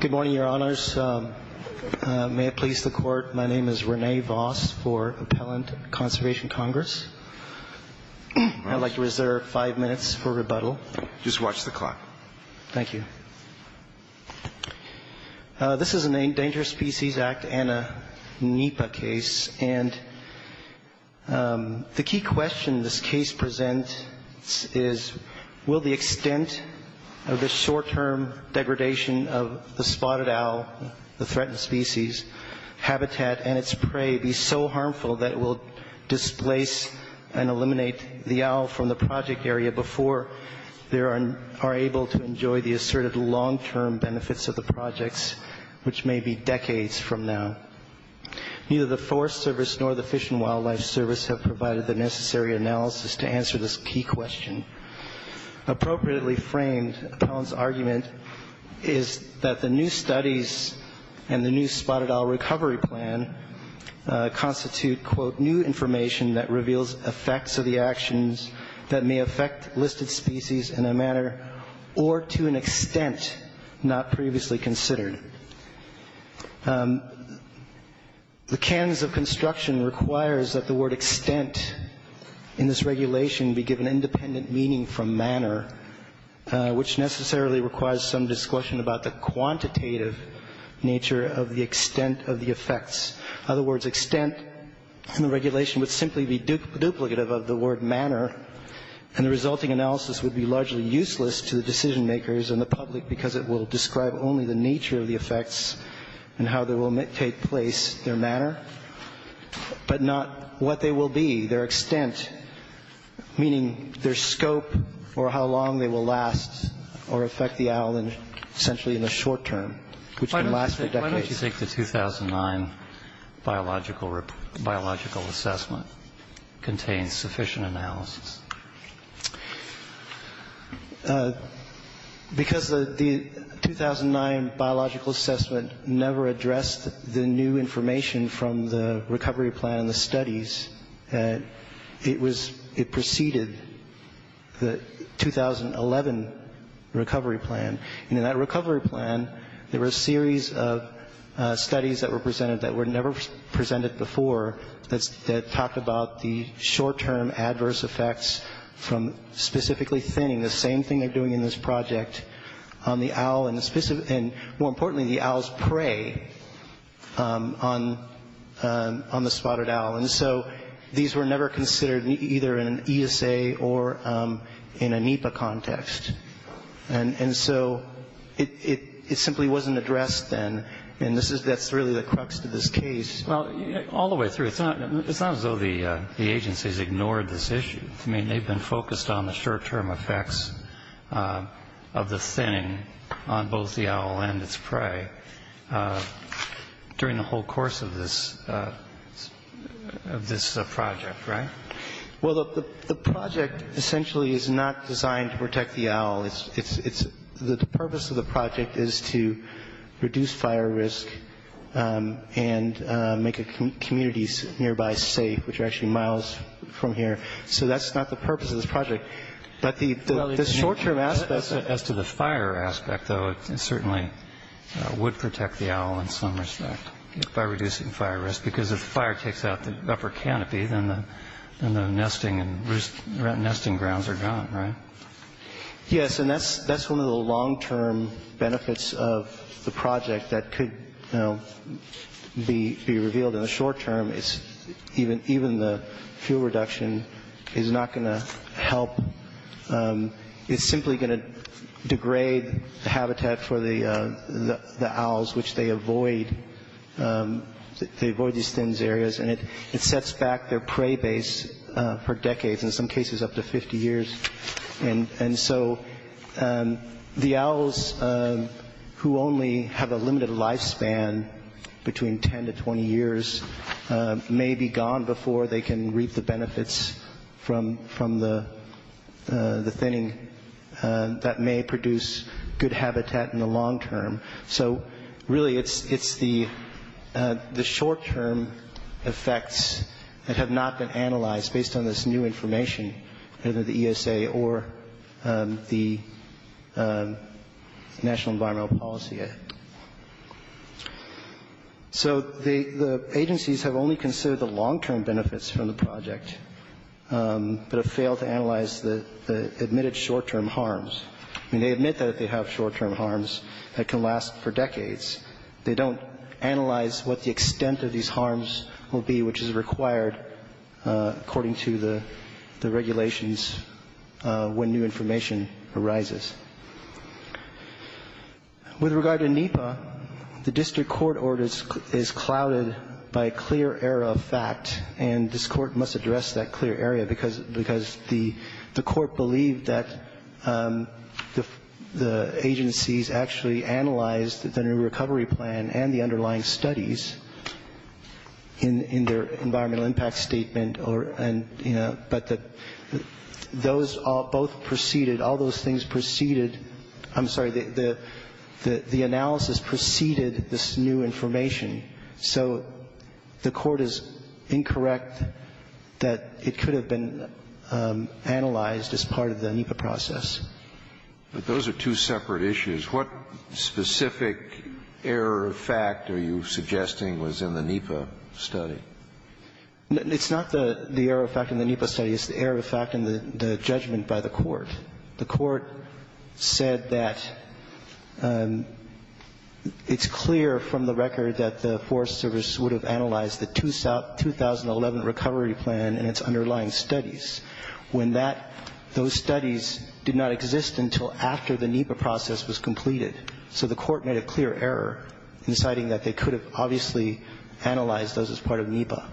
Good morning, Your Honors. May it please the Court, my name is Rene Voss for Appellant Conservation Congress. I'd like to reserve five minutes for rebuttal. Just watch the clock. Thank you. This is an Endangered Species Act and a NEPA case, and the key question this case presents is, will the extent of this short-term degradation of the spotted owl, the threatened species, habitat, and its prey be so harmful that it will displace and eliminate the owl from the project area before they are able to enjoy the asserted life of the owl? Will there be long-term benefits of the projects, which may be decades from now? Neither the Forest Service nor the Fish and Wildlife Service have provided the necessary analysis to answer this key question. Appropriately framed, Appellant's argument is that the new studies and the new spotted owl recovery plan constitute, quote, new information that reveals effects of the actions that may affect listed species in a manner or to an extent not previously considered. The canons of construction requires that the word extent in this regulation be given independent meaning from manner, which necessarily requires some discussion about the quantitative nature of the extent of the effects. In other words, extent in the regulation would simply be duplicative of the word manner, and the resulting analysis would be largely useless to the decision-makers and the public because it will describe only the nature of the effects and how they will take place, their manner, but not what they will be, their extent, meaning their scope or how long they will last or affect the owl essentially in the short term, which can last for decades. Why do you think the 2009 biological assessment contains sufficient analysis? Because the 2009 biological assessment never addressed the new information from the recovery plan and the studies. It preceded the 2011 recovery plan. And in that recovery plan, there were a series of studies that were presented that were never presented before that talked about the short-term adverse effects from specifically thinning, the same thing they're doing in this project on the owl and more importantly, the owl's prey on the spotted owl. And so these were never considered either in an ESA or in a NEPA context. And so it simply wasn't addressed then, and that's really the crux of this case. Well, all the way through, it's not as though the agencies ignored this issue. I mean, they've been focused on the short-term effects of the thinning on both the owl and its prey. During the whole course of this project, right? Well, the project essentially is not designed to protect the owl. The purpose of the project is to reduce fire risk and make communities nearby safe, which are actually miles from here. So that's not the purpose of this project. As to the fire aspect, though, it certainly would protect the owl in some respect by reducing fire risk, because if the fire takes out the upper canopy, then the nesting grounds are gone, right? Yes, and that's one of the long-term benefits of the project that could be revealed in the short-term. Even the fuel reduction is not going to help. It's simply going to degrade the habitat for the owls, which they avoid. They avoid these thinned areas, and it sets back their prey base for decades, in some cases up to 50 years. And so the owls, who only have a limited lifespan between 10 to 20 years, may be gone before they can reap the benefits from the thinning. That may produce good habitat in the long term. So really it's the short-term effects that have not been analyzed based on this new information, either the ESA or the National Environmental Policy Act. So the agencies have only considered the long-term benefits from the project, but have failed to analyze the admitted short-term harms. I mean, they admit that they have short-term harms that can last for decades. They don't analyze what the extent of these harms will be, which is required according to the regulations when new information arises. With regard to NEPA, the district court order is clouded by a clear error of fact, and this court must address that clear error because the court believed that the agencies actually analyzed the new recovery plan and the underlying studies in their environmental impact statement. But those both preceded, all those things preceded, I'm sorry, the analysis preceded this new information. So the court is incorrect that it could have been analyzed as part of the NEPA process. But those are two separate issues. What specific error of fact are you suggesting was in the NEPA study? It's not the error of fact in the NEPA study. It's the error of fact in the judgment by the court. The court said that it's clear from the record that the Forest Service would have analyzed the 2011 recovery plan and its underlying studies when that, those studies did not exist until after the NEPA process was completed. So the court made a clear error in deciding that they could have obviously analyzed those as part of NEPA.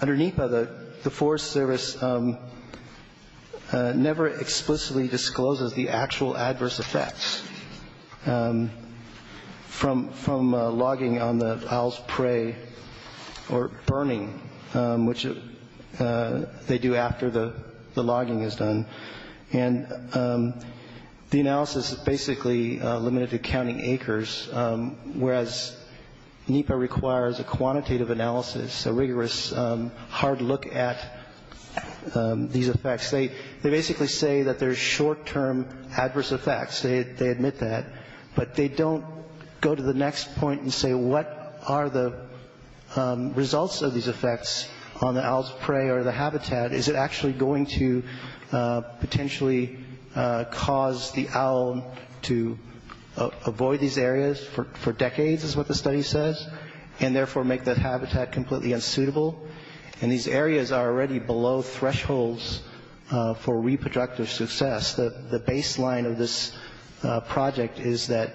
Under NEPA, the Forest Service never explicitly discloses the actual adverse effects from logging on the owl's prey or burning, which they do after the logging is done. And the analysis is basically limited to counting acres, whereas NEPA requires a quantitative analysis, a rigorous hard look at these effects. They basically say that there's short-term adverse effects. They admit that. But they don't go to the next point and say what are the results of these effects on the owl's prey or the habitat. Is it actually going to potentially cause the owl to avoid these areas for decades is what the study says, and therefore make that habitat completely unsuitable? And these areas are already below thresholds for reproductive success. The baseline of this project is that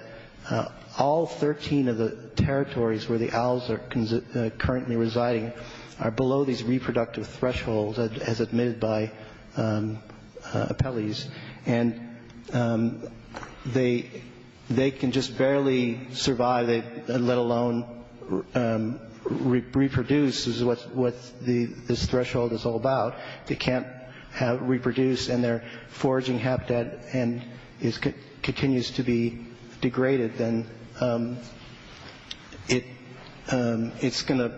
all 13 of the territories where the owls are currently residing are below these reproductive thresholds as admitted by appellees. And they can just barely survive, let alone reproduce, is what this threshold is all about. If they can't reproduce and their foraging habitat continues to be degraded, then it's going to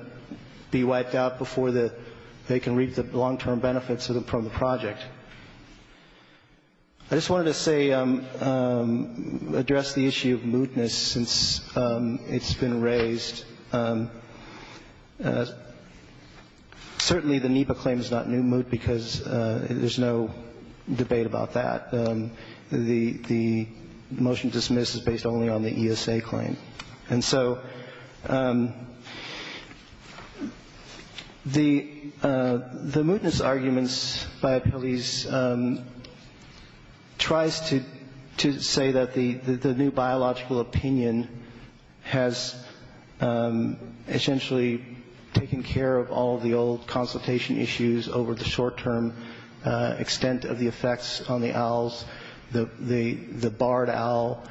be wiped out before they can reap the long-term benefits from the project. I just wanted to say, address the issue of mootness since it's been raised. Certainly the NEPA claim is not new moot because there's no debate about that. The motion dismissed is based only on the ESA claim. And so the mootness arguments by appellees tries to say that the new biological opinion has essentially taken care of all the old consultation issues over the short-term extent of the effects on the owls, the barred owl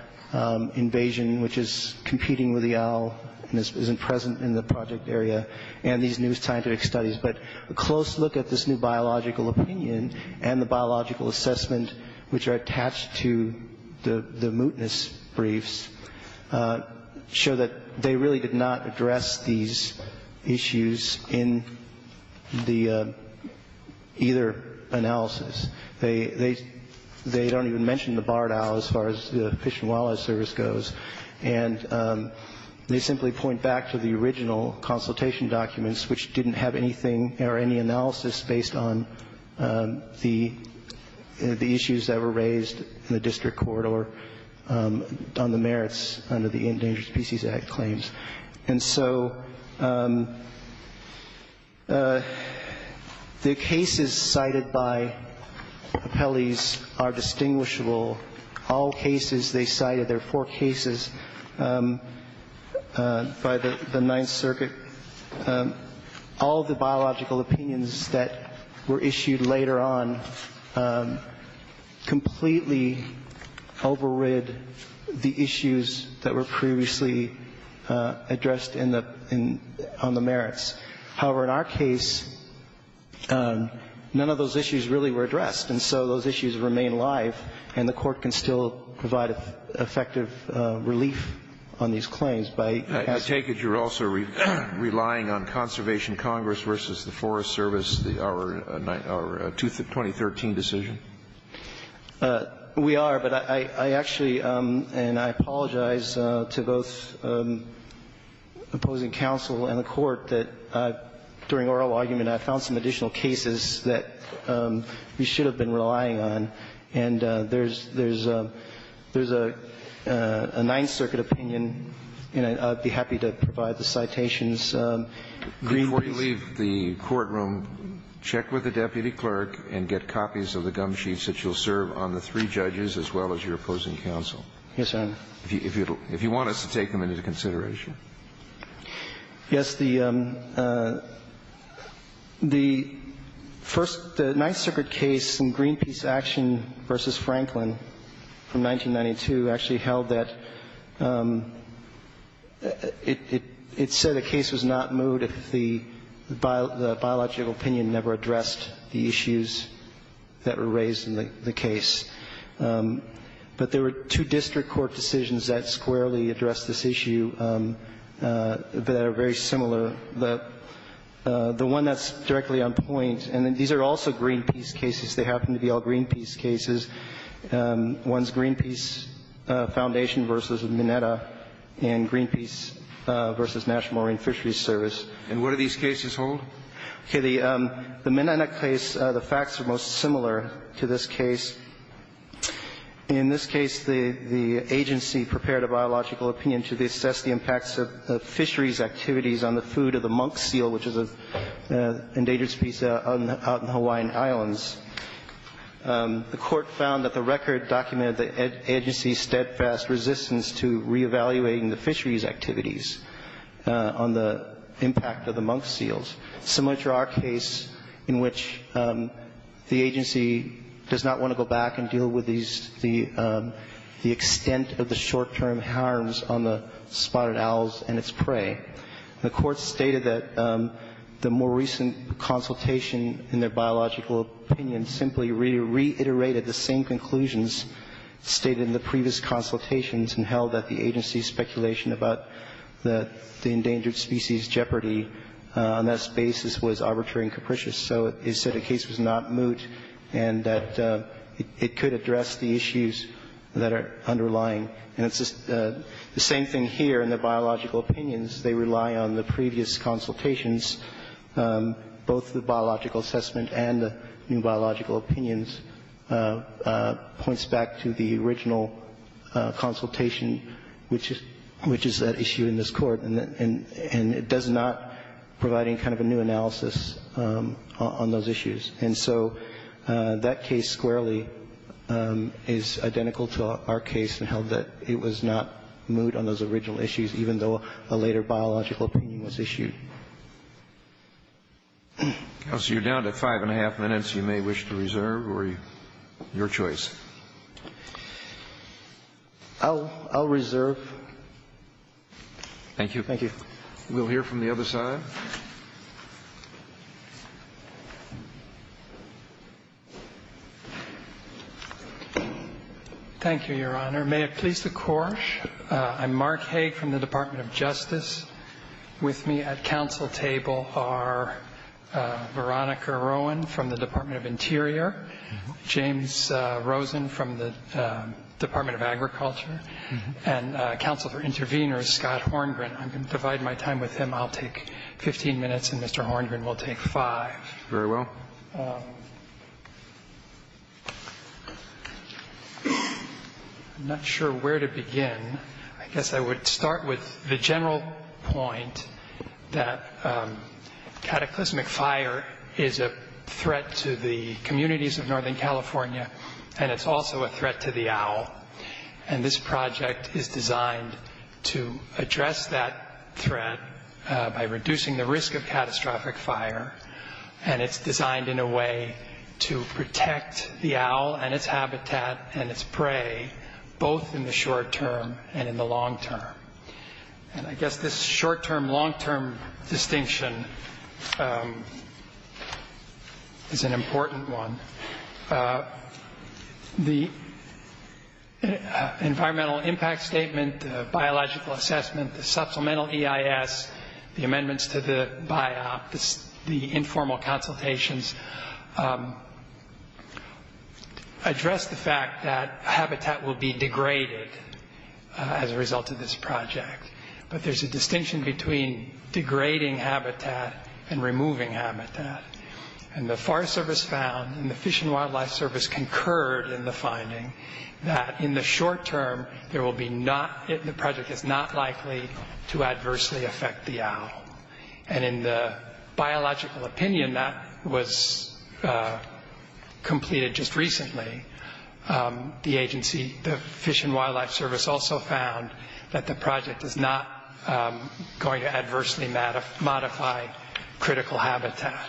invasion, which is competing with the owl and isn't present in the project area, and these new scientific studies. But a close look at this new biological opinion and the biological assessment, which are attached to the mootness briefs, show that they really did not address these issues in either analysis. They don't even mention the barred owl as far as the Fish and Wildlife Service goes. And they simply point back to the original consultation documents, which didn't have anything or any analysis based on the issues that were raised in the district court or on the merits under the Endangered Species Act claims. And so the cases cited by appellees are distinguishable. All cases they cited, there are four cases by the Ninth Circuit, all the biological opinions that were issued later on completely overrid the issues that were previously addressed on the merits. However, in our case, none of those issues really were addressed. And so those issues remain live, and the Court can still provide effective relief on these claims by asking. I take it you're also relying on Conservation Congress versus the Forest Service, our 2013 decision? We are, but I actually, and I apologize to both opposing counsel and the Court, that during oral argument I found some additional cases that we should have been relying on, and there's a Ninth Circuit opinion, and I'd be happy to provide the citations. Before you leave the courtroom, check with the deputy clerk and get copies of the gum sheets that you'll serve on the three judges as well as your opposing counsel. Yes, Your Honor. If you want us to take them into consideration. Yes. The first Ninth Circuit case in Greenpeace Action v. Franklin from 1992 actually held that it said a case was not moved if the biological opinion never addressed the issues that were raised in the case. But there were two district court decisions that squarely addressed this issue that are very similar. The one that's directly on point, and these are also Greenpeace cases. They happen to be all Greenpeace cases. One's Greenpeace Foundation v. Mineta and Greenpeace v. National Marine Fisheries Service. And what do these cases hold? Okay. The Mineta case, the facts are most similar to this case. In this case, the agency prepared a biological opinion to assess the impacts of fisheries activities on the food of the monk seal, which is an endangered species out in the Hawaiian Islands. The court found that the record documented the agency's steadfast resistance to reevaluating the fisheries activities on the impact of the monk seals, similar to our case in which the agency does not want to go back and deal with these the extent of the short-term harms on the spotted owls and its prey. The court stated that the more recent consultation in their biological opinion simply reiterated the same conclusions stated in the previous consultations and held that the agency's speculation about the endangered species jeopardy on that basis was arbitrary and capricious. So it said the case was not moot and that it could address the issues that are underlying. And it's the same thing here in the biological opinions. They rely on the previous consultations, both the biological assessment and the new biological opinions, points back to the original consultation, which is that issue in this Court, and it does not provide any kind of a new analysis on those issues. And so that case squarely is identical to our case in how that it was not moot on those original issues, even though a later biological opinion was issued. Kennedy, you're down to five and a half minutes. You may wish to reserve or your choice. I'll reserve. Thank you. Thank you. We'll hear from the other side. Thank you, Your Honor. May it please the Court, I'm Mark Haig from the Department of Justice. With me at counsel table are Veronica Rowan from the Department of Interior, James Rosen from the Department of Agriculture, and counsel for interveners, Scott Horngren. I'm going to divide my time with him. I'll take 15 minutes, and Mr. Horngren will take five. Very well. I'm not sure where to begin. I guess I would start with the general point that cataclysmic fire is a threat to the communities of Northern California, and it's also a threat to the owl. And this project is designed to address that threat by reducing the risk of catastrophic fire, and it's designed in a way to protect the owl and its habitat and its prey, both in the short term and in the long term. And I guess this short-term, long-term distinction is an important one. The environmental impact statement, the biological assessment, the supplemental EIS, the amendments to the BIOP, the informal consultations address the fact that habitat will be degraded as a result of this project. But there's a distinction between degrading habitat and removing habitat. And the Forest Service found, and the Fish and Wildlife Service concurred in the finding, that in the short term, there will be not—the project is not likely to adversely affect the owl. And in the biological opinion, that was completed just recently. The agency—the Fish and Wildlife Service also found that the project is not going to adversely modify critical habitat.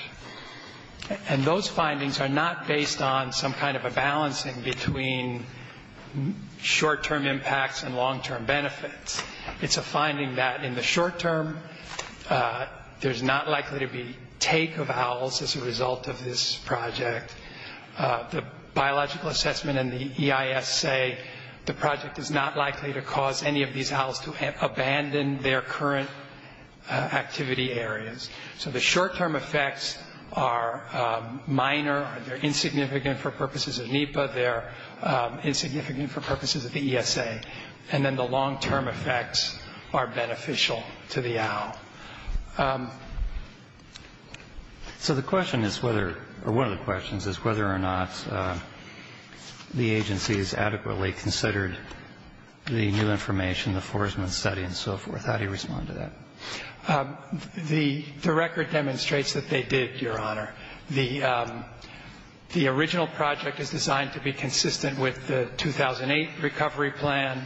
And those findings are not based on some kind of a balancing between short-term impacts and long-term benefits. It's a finding that in the short term, there's not likely to be take of owls as a result of this project. The biological assessment and the EIS say the project is not likely to cause any of these owls to abandon their current activity areas. So the short-term effects are minor. They're insignificant for purposes of NEPA. They're insignificant for purposes of the ESA. And then the long-term effects are beneficial to the owl. So the question is whether—or one of the questions is whether or not the agency has adequately considered the new information, the Forsman study and so forth. How do you respond to that? The record demonstrates that they did, Your Honor. The original project is designed to be consistent with the 2008 recovery plan,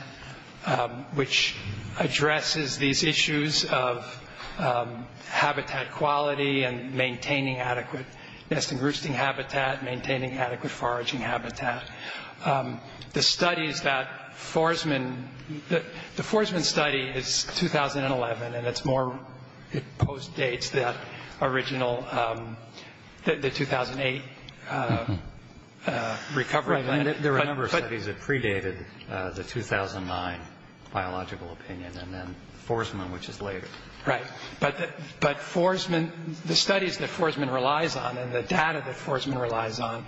which addresses these issues of habitat quality and maintaining adequate nesting roosting habitat, maintaining adequate foraging habitat. The studies that Forsman—the Forsman study is 2011, and it's more—it postdates that original—the 2008 recovery plan. There were a number of studies that predated the 2009 biological opinion and then Forsman, which is later. Right. But Forsman—the studies that Forsman relies on and the data that Forsman relies on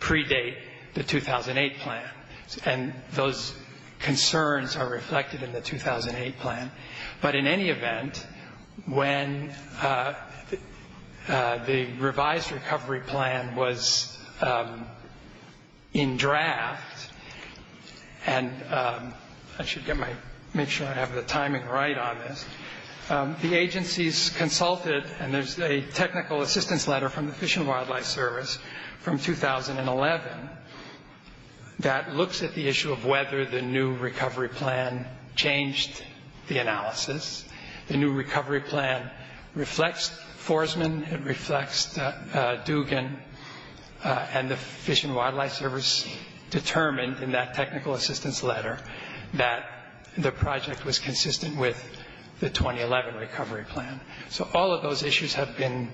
predate the 2008 plan. And those concerns are reflected in the 2008 plan. But in any event, when the revised recovery plan was in draft—and I should get my—make sure I have the timing right on this—the agencies consulted, and there's a technical assistance letter from the Fish and Wildlife Service from 2011 that looks at the issue of whether the new recovery plan changed the analysis. The new recovery plan reflects Forsman. It reflects Dugan. And the Fish and Wildlife Service determined in that technical assistance letter that the project was consistent with the 2011 recovery plan. So all of those issues have been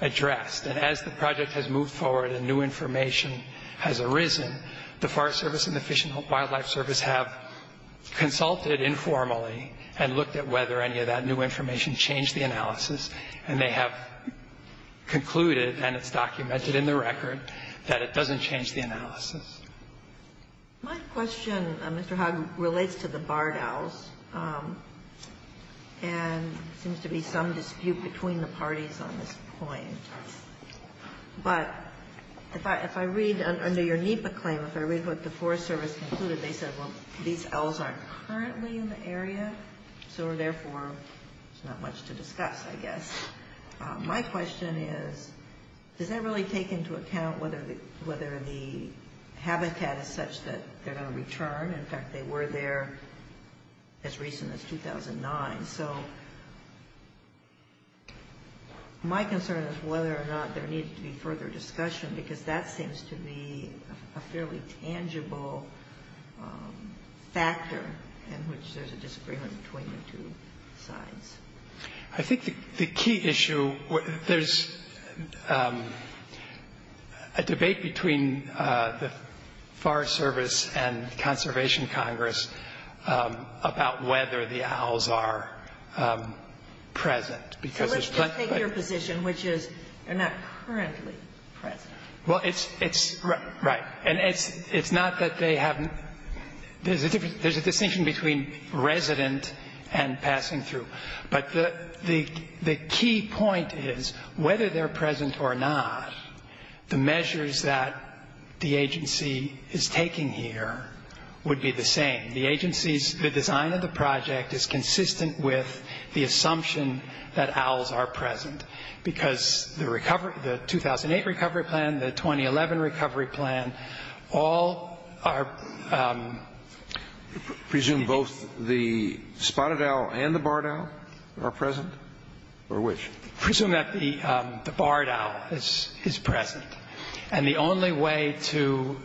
addressed. And as the project has moved forward and new information has arisen, the Forest Service and the Fish and Wildlife Service have consulted informally and looked at whether any of that new information changed the analysis, and they have concluded, and it's documented in the record, that it doesn't change the analysis. My question, Mr. Hogg, relates to the Bardows, and there seems to be some dispute between the parties on this point. But if I read under your NEPA claim, if I read what the Forest Service concluded, they said, well, these owls aren't currently in the area, so therefore, there's not much to discuss, I guess. My question is, does that really take into account whether the habitat is such that they're going to return? In fact, they were there as recent as 2009. So my concern is whether or not there needs to be further discussion, because that seems to be a fairly tangible factor in which there's a disagreement between the two sides. I think the key issue, there's a debate between the Forest Service and the Conservation Congress about whether the owls are present. So let's just take your position, which is they're not currently present. Well, it's right. And it's not that they haven't. There's a distinction between resident and passing through. But the key point is, whether they're present or not, the measures that the agency is taking here would be the same. The agency's design of the project is consistent with the assumption that owls are present, because the recovery, the 2008 recovery plan, the 2011 recovery plan, all are. Presume both the spotted owl and the barred owl are present? Or which? Presume that the barred owl is present. And the only way to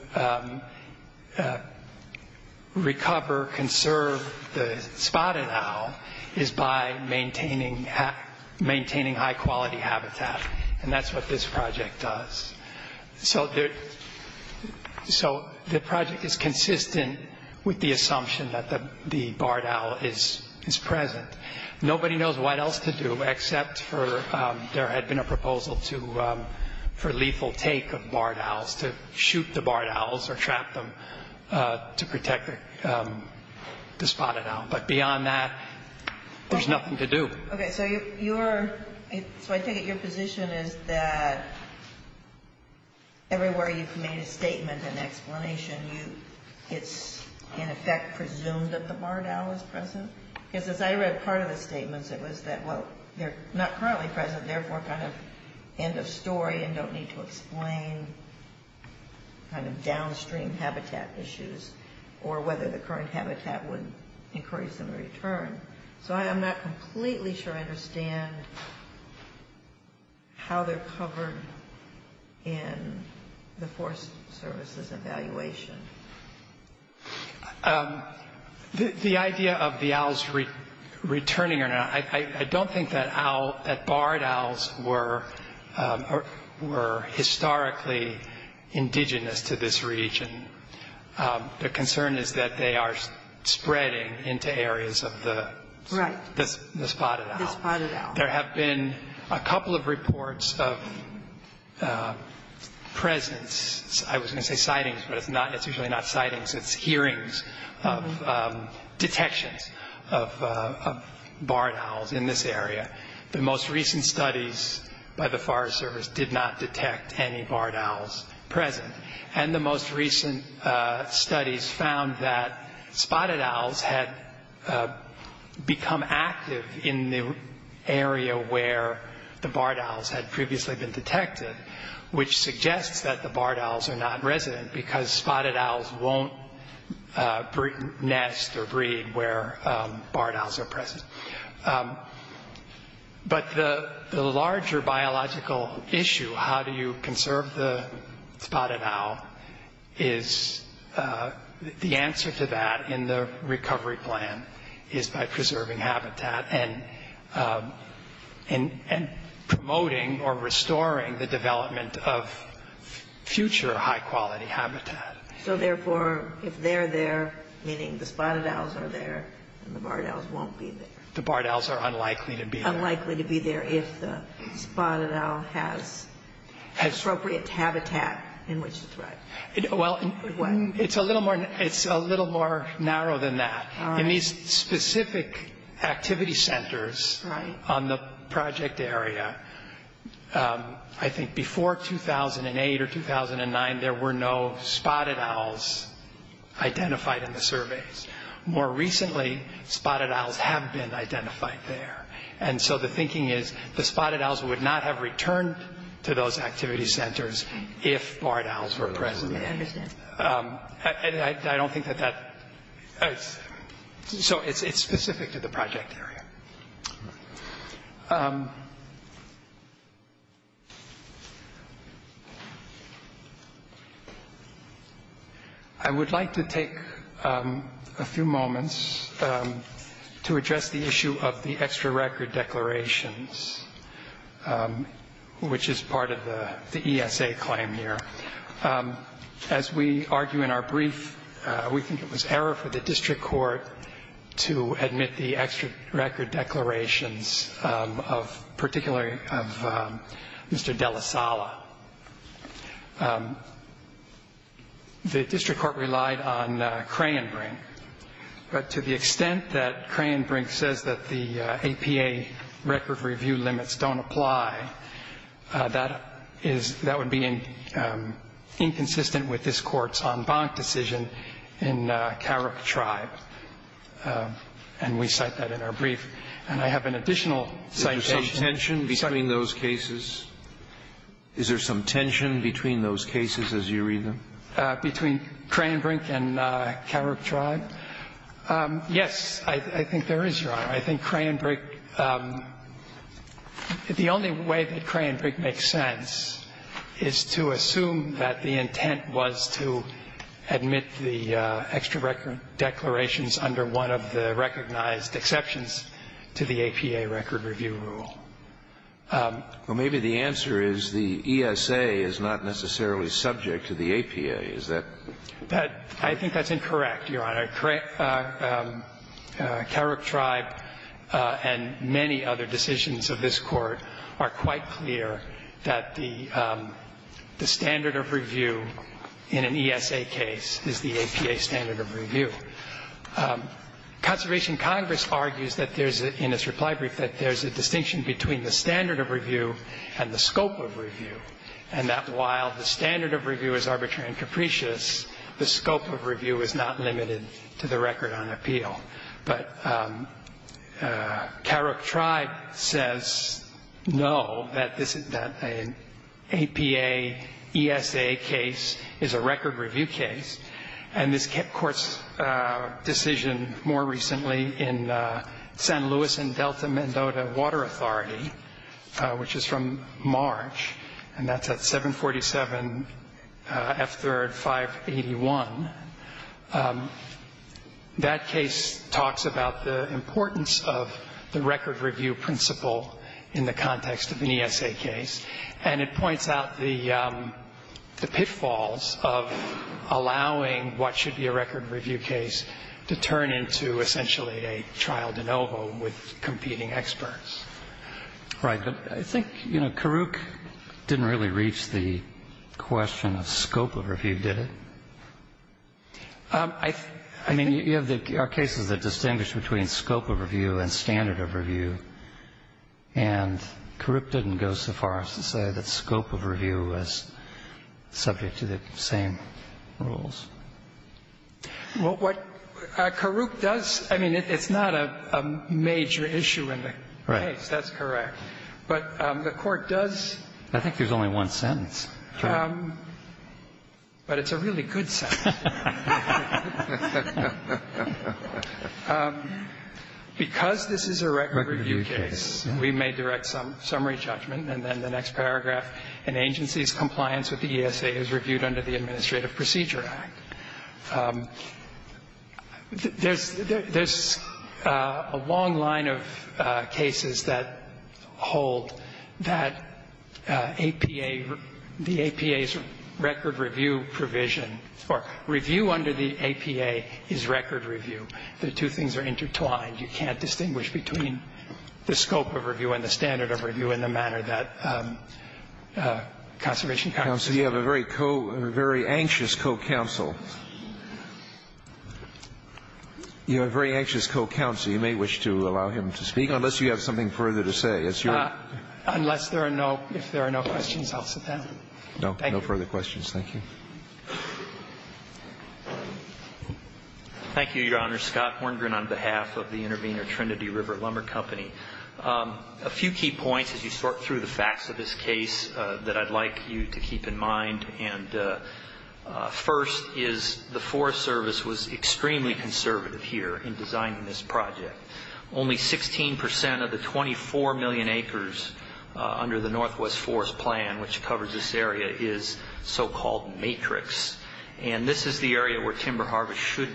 recover, conserve the spotted owl is by maintaining high-quality habitat. And that's what this project does. So the project is consistent with the assumption that the barred owl is present. Nobody knows what else to do except for there had been a proposal for lethal take of barred owls, to shoot the barred owls or trap them to protect the spotted owl. But beyond that, there's nothing to do. Okay. So I take it your position is that everywhere you've made a statement and explanation, it's in effect presumed that the barred owl is present? Because as I read part of the statements, it was that, well, they're not currently present, therefore kind of end of story and don't need to explain kind of downstream habitat issues or whether the current habitat would encourage them to return. So I'm not completely sure I understand how they're covered in the Forest Service's evaluation. The idea of the owls returning or not, I don't think that barred owls were historically indigenous to this region. The concern is that they are spreading into areas of the spotted owl. There have been a couple of reports of presence. I was going to say sightings, but it's usually not sightings. It's hearings of detections of barred owls in this area. The most recent studies by the Forest Service did not detect any barred owls present. And the most recent studies found that spotted owls had become active in the area where the barred owls had previously been detected, which suggests that the barred owls are not resident because spotted owls won't nest or breed where barred owls are present. But the larger biological issue, how do you conserve the spotted owl, is the answer to that in the recovery plan is by preserving habitat and promoting or restoring the development of future high-quality habitat. So, therefore, if they're there, meaning the spotted owls are there, the barred owls won't be there. The barred owls are unlikely to be there. Unlikely to be there if the spotted owl has appropriate habitat in which to thrive. Well, it's a little more narrow than that. In these specific activity centers on the project area, I think before 2008 or 2009, there were no spotted owls identified in the surveys. More recently, spotted owls have been identified there. And so the thinking is the spotted owls would not have returned to those activity centers if barred owls were present. I understand. I don't think that that – so it's specific to the project area. I would like to take a few moments to address the issue of the extra record declarations, which is part of the ESA claim here. As we argue in our brief, we think it was error for the district court to admit the extra record declarations, particularly of Mr. Della Sala. The district court relied on Cray and Brink. But to the extent that Cray and Brink says that the APA record review limits don't apply, that is – that would be inconsistent with this Court's en banc decision in Carrick Tribe. And we cite that in our brief. And I have an additional citation. Is there some tension between those cases? Is there some tension between those cases as you read them? Between Cray and Brink and Carrick Tribe? Yes, I think there is, Your Honor. I think Cray and Brink – the only way that Cray and Brink makes sense is to assume that the intent was to admit the extra record declarations under one of the recognized exceptions to the APA record review rule. Well, maybe the answer is the ESA is not necessarily subject to the APA. Is that – I think that's incorrect, Your Honor. Carrick Tribe and many other decisions of this Court are quite clear that the standard of review in an ESA case is the APA standard of review. Conservation Congress argues that there's – in its reply brief that there's a distinction between the standard of review and the scope of review, and that while the standard of review is arbitrary and capricious, the scope of review is not limited to the record on appeal. But Carrick Tribe says no, that an APA ESA case is a record review case. And this Court's decision more recently in San Luis and Delta-Mendota Water Authority, which is from March, and that's at 747 F. 3rd 581, that case talks about the importance of the record review principle in the context of an ESA case, and it points out the pitfalls of allowing what should be a record review case to turn into essentially a trial de novo with competing experts. Right. But I think, you know, Carrick didn't really reach the question of scope of review, did it? I mean, you have the cases that distinguish between scope of review and standard of review, and Carrick didn't go so far as to say that scope of review was subject to the same rules. Well, what Carrick does, I mean, it's not a major issue in the case. Right. That's correct. But the Court does... I think there's only one sentence. But it's a really good sentence. Because this is a record review case, we may direct summary judgment, and then the next paragraph, an agency's compliance with the ESA is reviewed under the Administrative Procedure Act. There's a long line of cases that hold that APA, the APA's record review provision or review under the APA is record review. The two things are intertwined. You can't distinguish between the scope of review and the standard of review in the manner that Conservation Congress does. You know, I'm sorry, Counsel. You have a very co or very anxious co-counsel. You have a very anxious co-counsel. You may wish to allow him to speak, unless you have something further to say. It's your... Unless there are no questions, I'll sit down. Thank you. No. No further questions. Thank you. Thank you, Your Honor. Scott Horngren on behalf of the Intervenor Trinity River Lumber Company. A few key points as you sort through the facts of this case that I'd like you to keep in mind. And first is the Forest Service was extremely conservative here in designing this project. Only 16 percent of the 24 million acres under the Northwest Forest Plan, which covers this area, is so-called matrix. And this is the area where timber harvest should...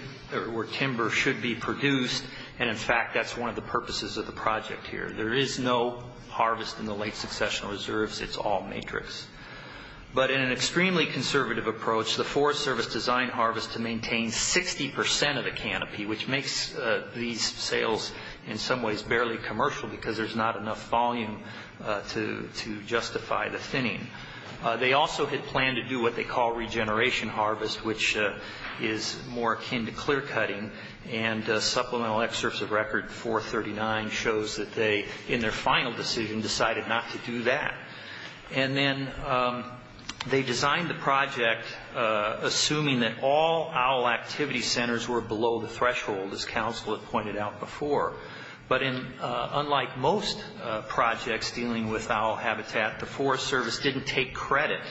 where timber should be produced. And, in fact, that's one of the purposes of the project here. There is no harvest in the late successional reserves. It's all matrix. But in an extremely conservative approach, the Forest Service designed harvest to maintain 60 percent of the canopy, which makes these sales in some ways barely commercial because there's not enough volume to justify the thinning. They also had planned to do what they call regeneration harvest, which is more akin to clear-cutting. And Supplemental Excerpts of Record 439 shows that they, in their final decision, decided not to do that. And then they designed the project assuming that all owl activity centers were below the threshold, as counsel had pointed out before. But unlike most projects dealing with owl habitat, the Forest Service didn't take credit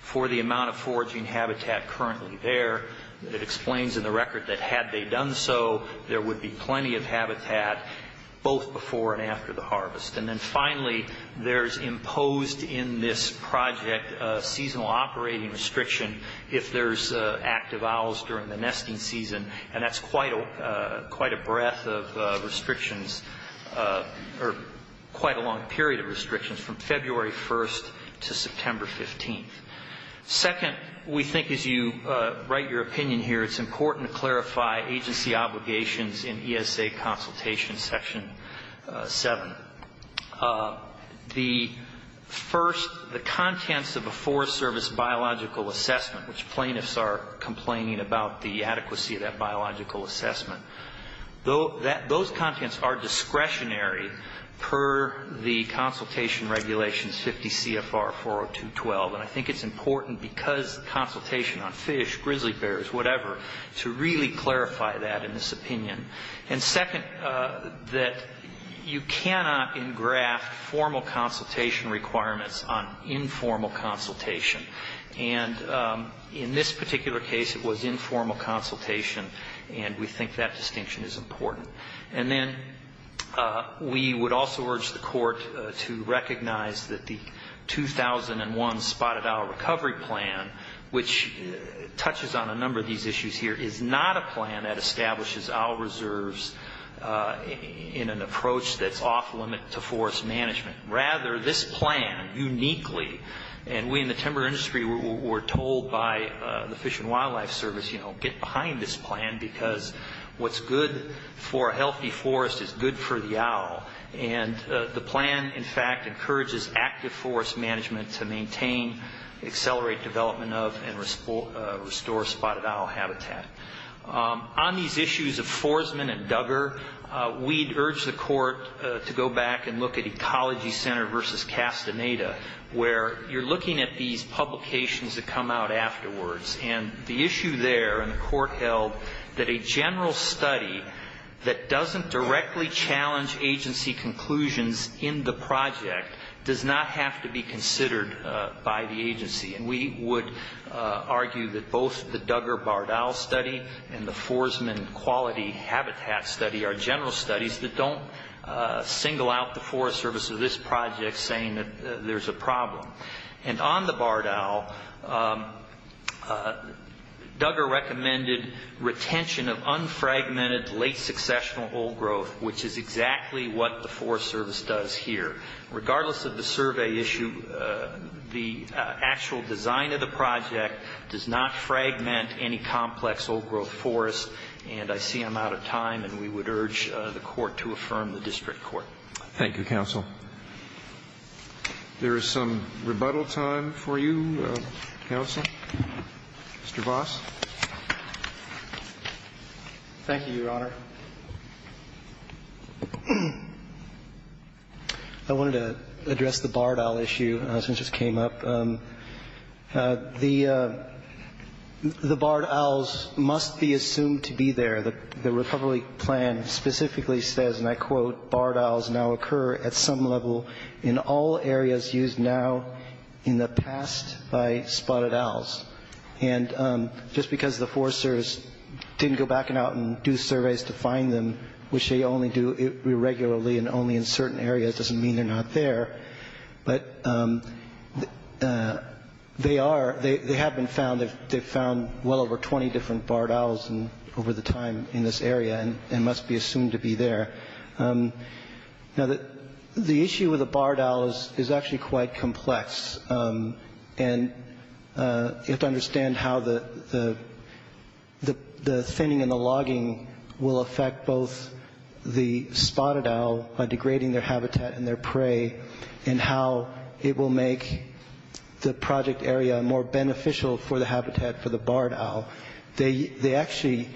for the amount of foraging habitat currently there. It explains in the record that had they done so, there would be plenty of habitat both before and after the harvest. And then, finally, there's imposed in this project a seasonal operating restriction if there's active owls during the nesting season. And that's quite a breadth of restrictions, or quite a long period of restrictions, from February 1st to September 15th. Second, we think as you write your opinion here, it's important to clarify agency obligations in ESA Consultation Section 7. The first, the contents of a Forest Service biological assessment, which plaintiffs are complaining about the adequacy of that biological assessment, those contents are discretionary per the Consultation Regulations 50 CFR 40212. And I think it's important because consultation on fish, grizzly bears, whatever, to really clarify that in this opinion. And second, that you cannot engraft formal consultation requirements on informal consultation. And in this particular case, it was informal consultation, and we think that distinction is important. And then we would also urge the Court to recognize that the 2001 Spotted Owl Recovery Plan, which touches on a number of these issues here, is not a plan that establishes owl reserves in an approach that's off-limit to forest management. Rather, this plan, uniquely, and we in the timber industry were told by the Fish and Wildlife Service, you know, get behind this plan because what's good for a healthy forest is good for the owl. And the plan, in fact, encourages active forest management to maintain, accelerate development of, and restore spotted owl habitat. On these issues of Forsman and Duggar, we'd urge the Court to go back and look at Ecology Center versus Castaneda, where you're looking at these publications that come out afterwards. And the issue there, and the Court held that a general study that doesn't directly challenge agency conclusions in the project does not have to be considered by the agency. And we would argue that both the Duggar Barred Owl Study and the Forsman Quality Habitat Study are general studies that don't single out the Forest Service of this project saying that there's a problem. And on the barred owl, Duggar recommended retention of unfragmented late-successional old growth, which is exactly what the Forest Service does here. Regardless of the survey issue, the actual design of the project does not fragment any complex old-growth forest, and I see I'm out of time, and we would urge the Court to affirm the District Court. Thank you, Counsel. There is some rebuttal time for you, Counsel. Mr. Vos. Thank you, Your Honor. I wanted to address the barred owl issue since it just came up. The barred owls must be assumed to be there. The recovery plan specifically says, and I quote, barred owls now occur at some level in all areas used now in the past by spotted owls. And just because the Forest Service didn't go back and out and do surveys to find them, which they only do regularly and only in certain areas, doesn't mean they're not there. But they have been found. They've found well over 20 different barred owls over the time in this area and must be assumed to be there. Now, the issue with the barred owl is actually quite complex, and you have to understand how the thinning and the logging will affect both the spotted owl by degrading their habitat and their prey and how it will make the project area more beneficial for the habitat for the barred owl. They actually,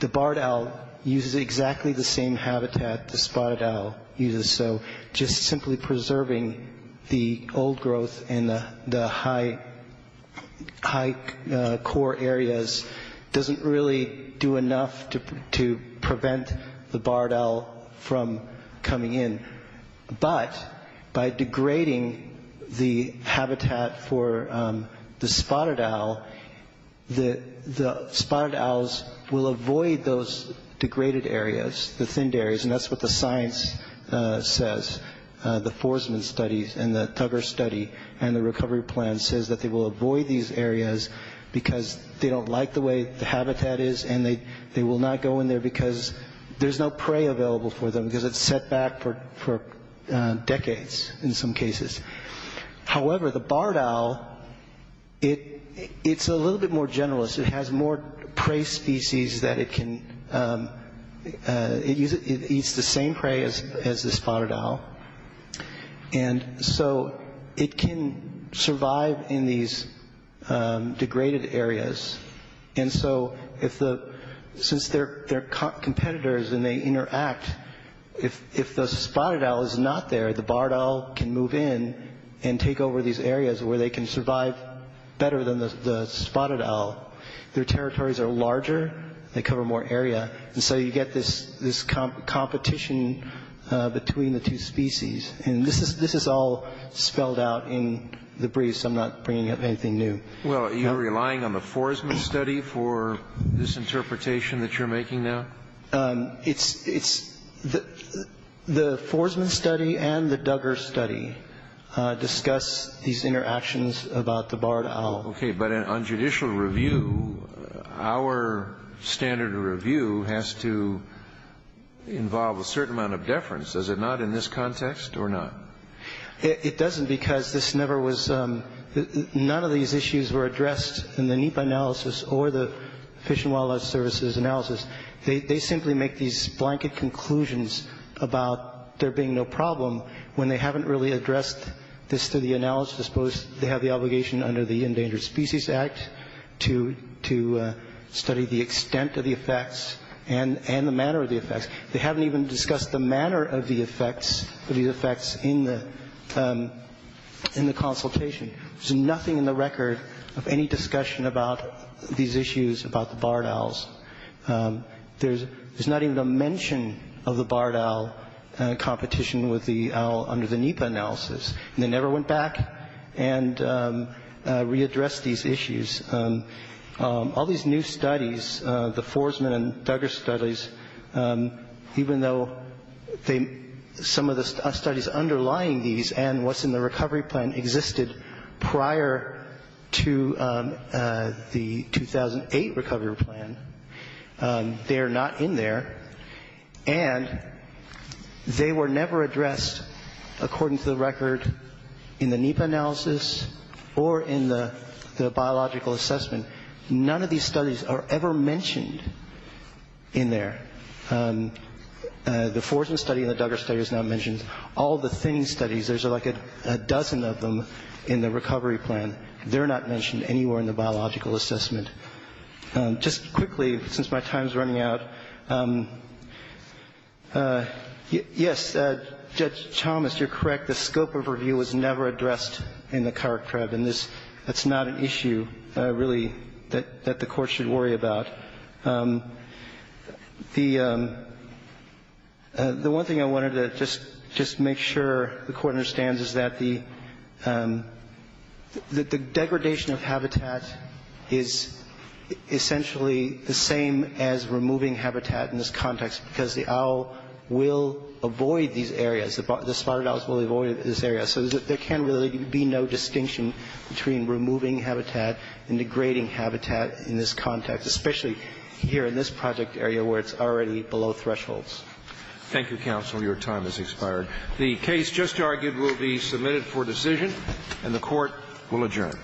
the barred owl uses exactly the same habitat the spotted owl uses. So just simply preserving the old growth in the high core areas doesn't really do enough to prevent the barred owl from coming in. But by degrading the habitat for the spotted owl, the spotted owls will avoid those degraded areas, the thinned areas, and that's what the science says, the Forsman studies and the Thugger study and the recovery plan says that they will avoid these areas because they don't like the way the habitat is and they will not go in there because there's no prey available for them because it's set back for decades in some cases. However, the barred owl, it's a little bit more generalist. It has more prey species that it can, it eats the same prey as the spotted owl. And so it can survive in these degraded areas. And so since they're competitors and they interact, if the spotted owl is not there, the barred owl can move in and take over these areas where they can survive better than the spotted owl. Their territories are larger, they cover more area, and so you get this competition between the two species. And this is all spelled out in the briefs. I'm not bringing up anything new. Well, are you relying on the Forsman study for this interpretation that you're making now? The Forsman study and the Thugger study discuss these interactions about the barred owl. Okay, but on judicial review, our standard of review has to involve a certain amount of deference. Does it not in this context or not? It doesn't because this never was, none of these issues were addressed in the NEPA analysis or the Fish and Wildlife Services analysis. They simply make these blanket conclusions about there being no problem when they haven't really addressed this through the analysis. I suppose they have the obligation under the Endangered Species Act to study the extent of the effects and the manner of the effects. They haven't even discussed the manner of the effects in the consultation. There's nothing in the record of any discussion about these issues about the barred owls. There's not even a mention of the barred owl competition with the owl under the NEPA analysis. And they never went back and readdressed these issues. All these new studies, the Forsman and Thugger studies, even though some of the studies underlying these and what's in the recovery plan existed prior to the 2008 recovery plan, they are not in there. And they were never addressed, according to the record, in the NEPA analysis or in the biological assessment. None of these studies are ever mentioned in there. The Forsman study and the Thugger study is not mentioned. All the thing studies, there's like a dozen of them in the recovery plan. They're not mentioned anywhere in the biological assessment. Just quickly, since my time is running out. Yes, Judge Chalmers, you're correct. The scope of review was never addressed in the cart crab. And that's not an issue, really, that the Court should worry about. The one thing I wanted to just make sure the Court understands is that the degradation of habitat is essentially the same as removing habitat in this context, because the owl will avoid these areas. The spotted owls will avoid this area. So there can really be no distinction between removing habitat and degrading habitat in this context, especially here in this project area where it's already below thresholds. Thank you, counsel. Your time has expired. The case just argued will be submitted for decision, and the Court will adjourn.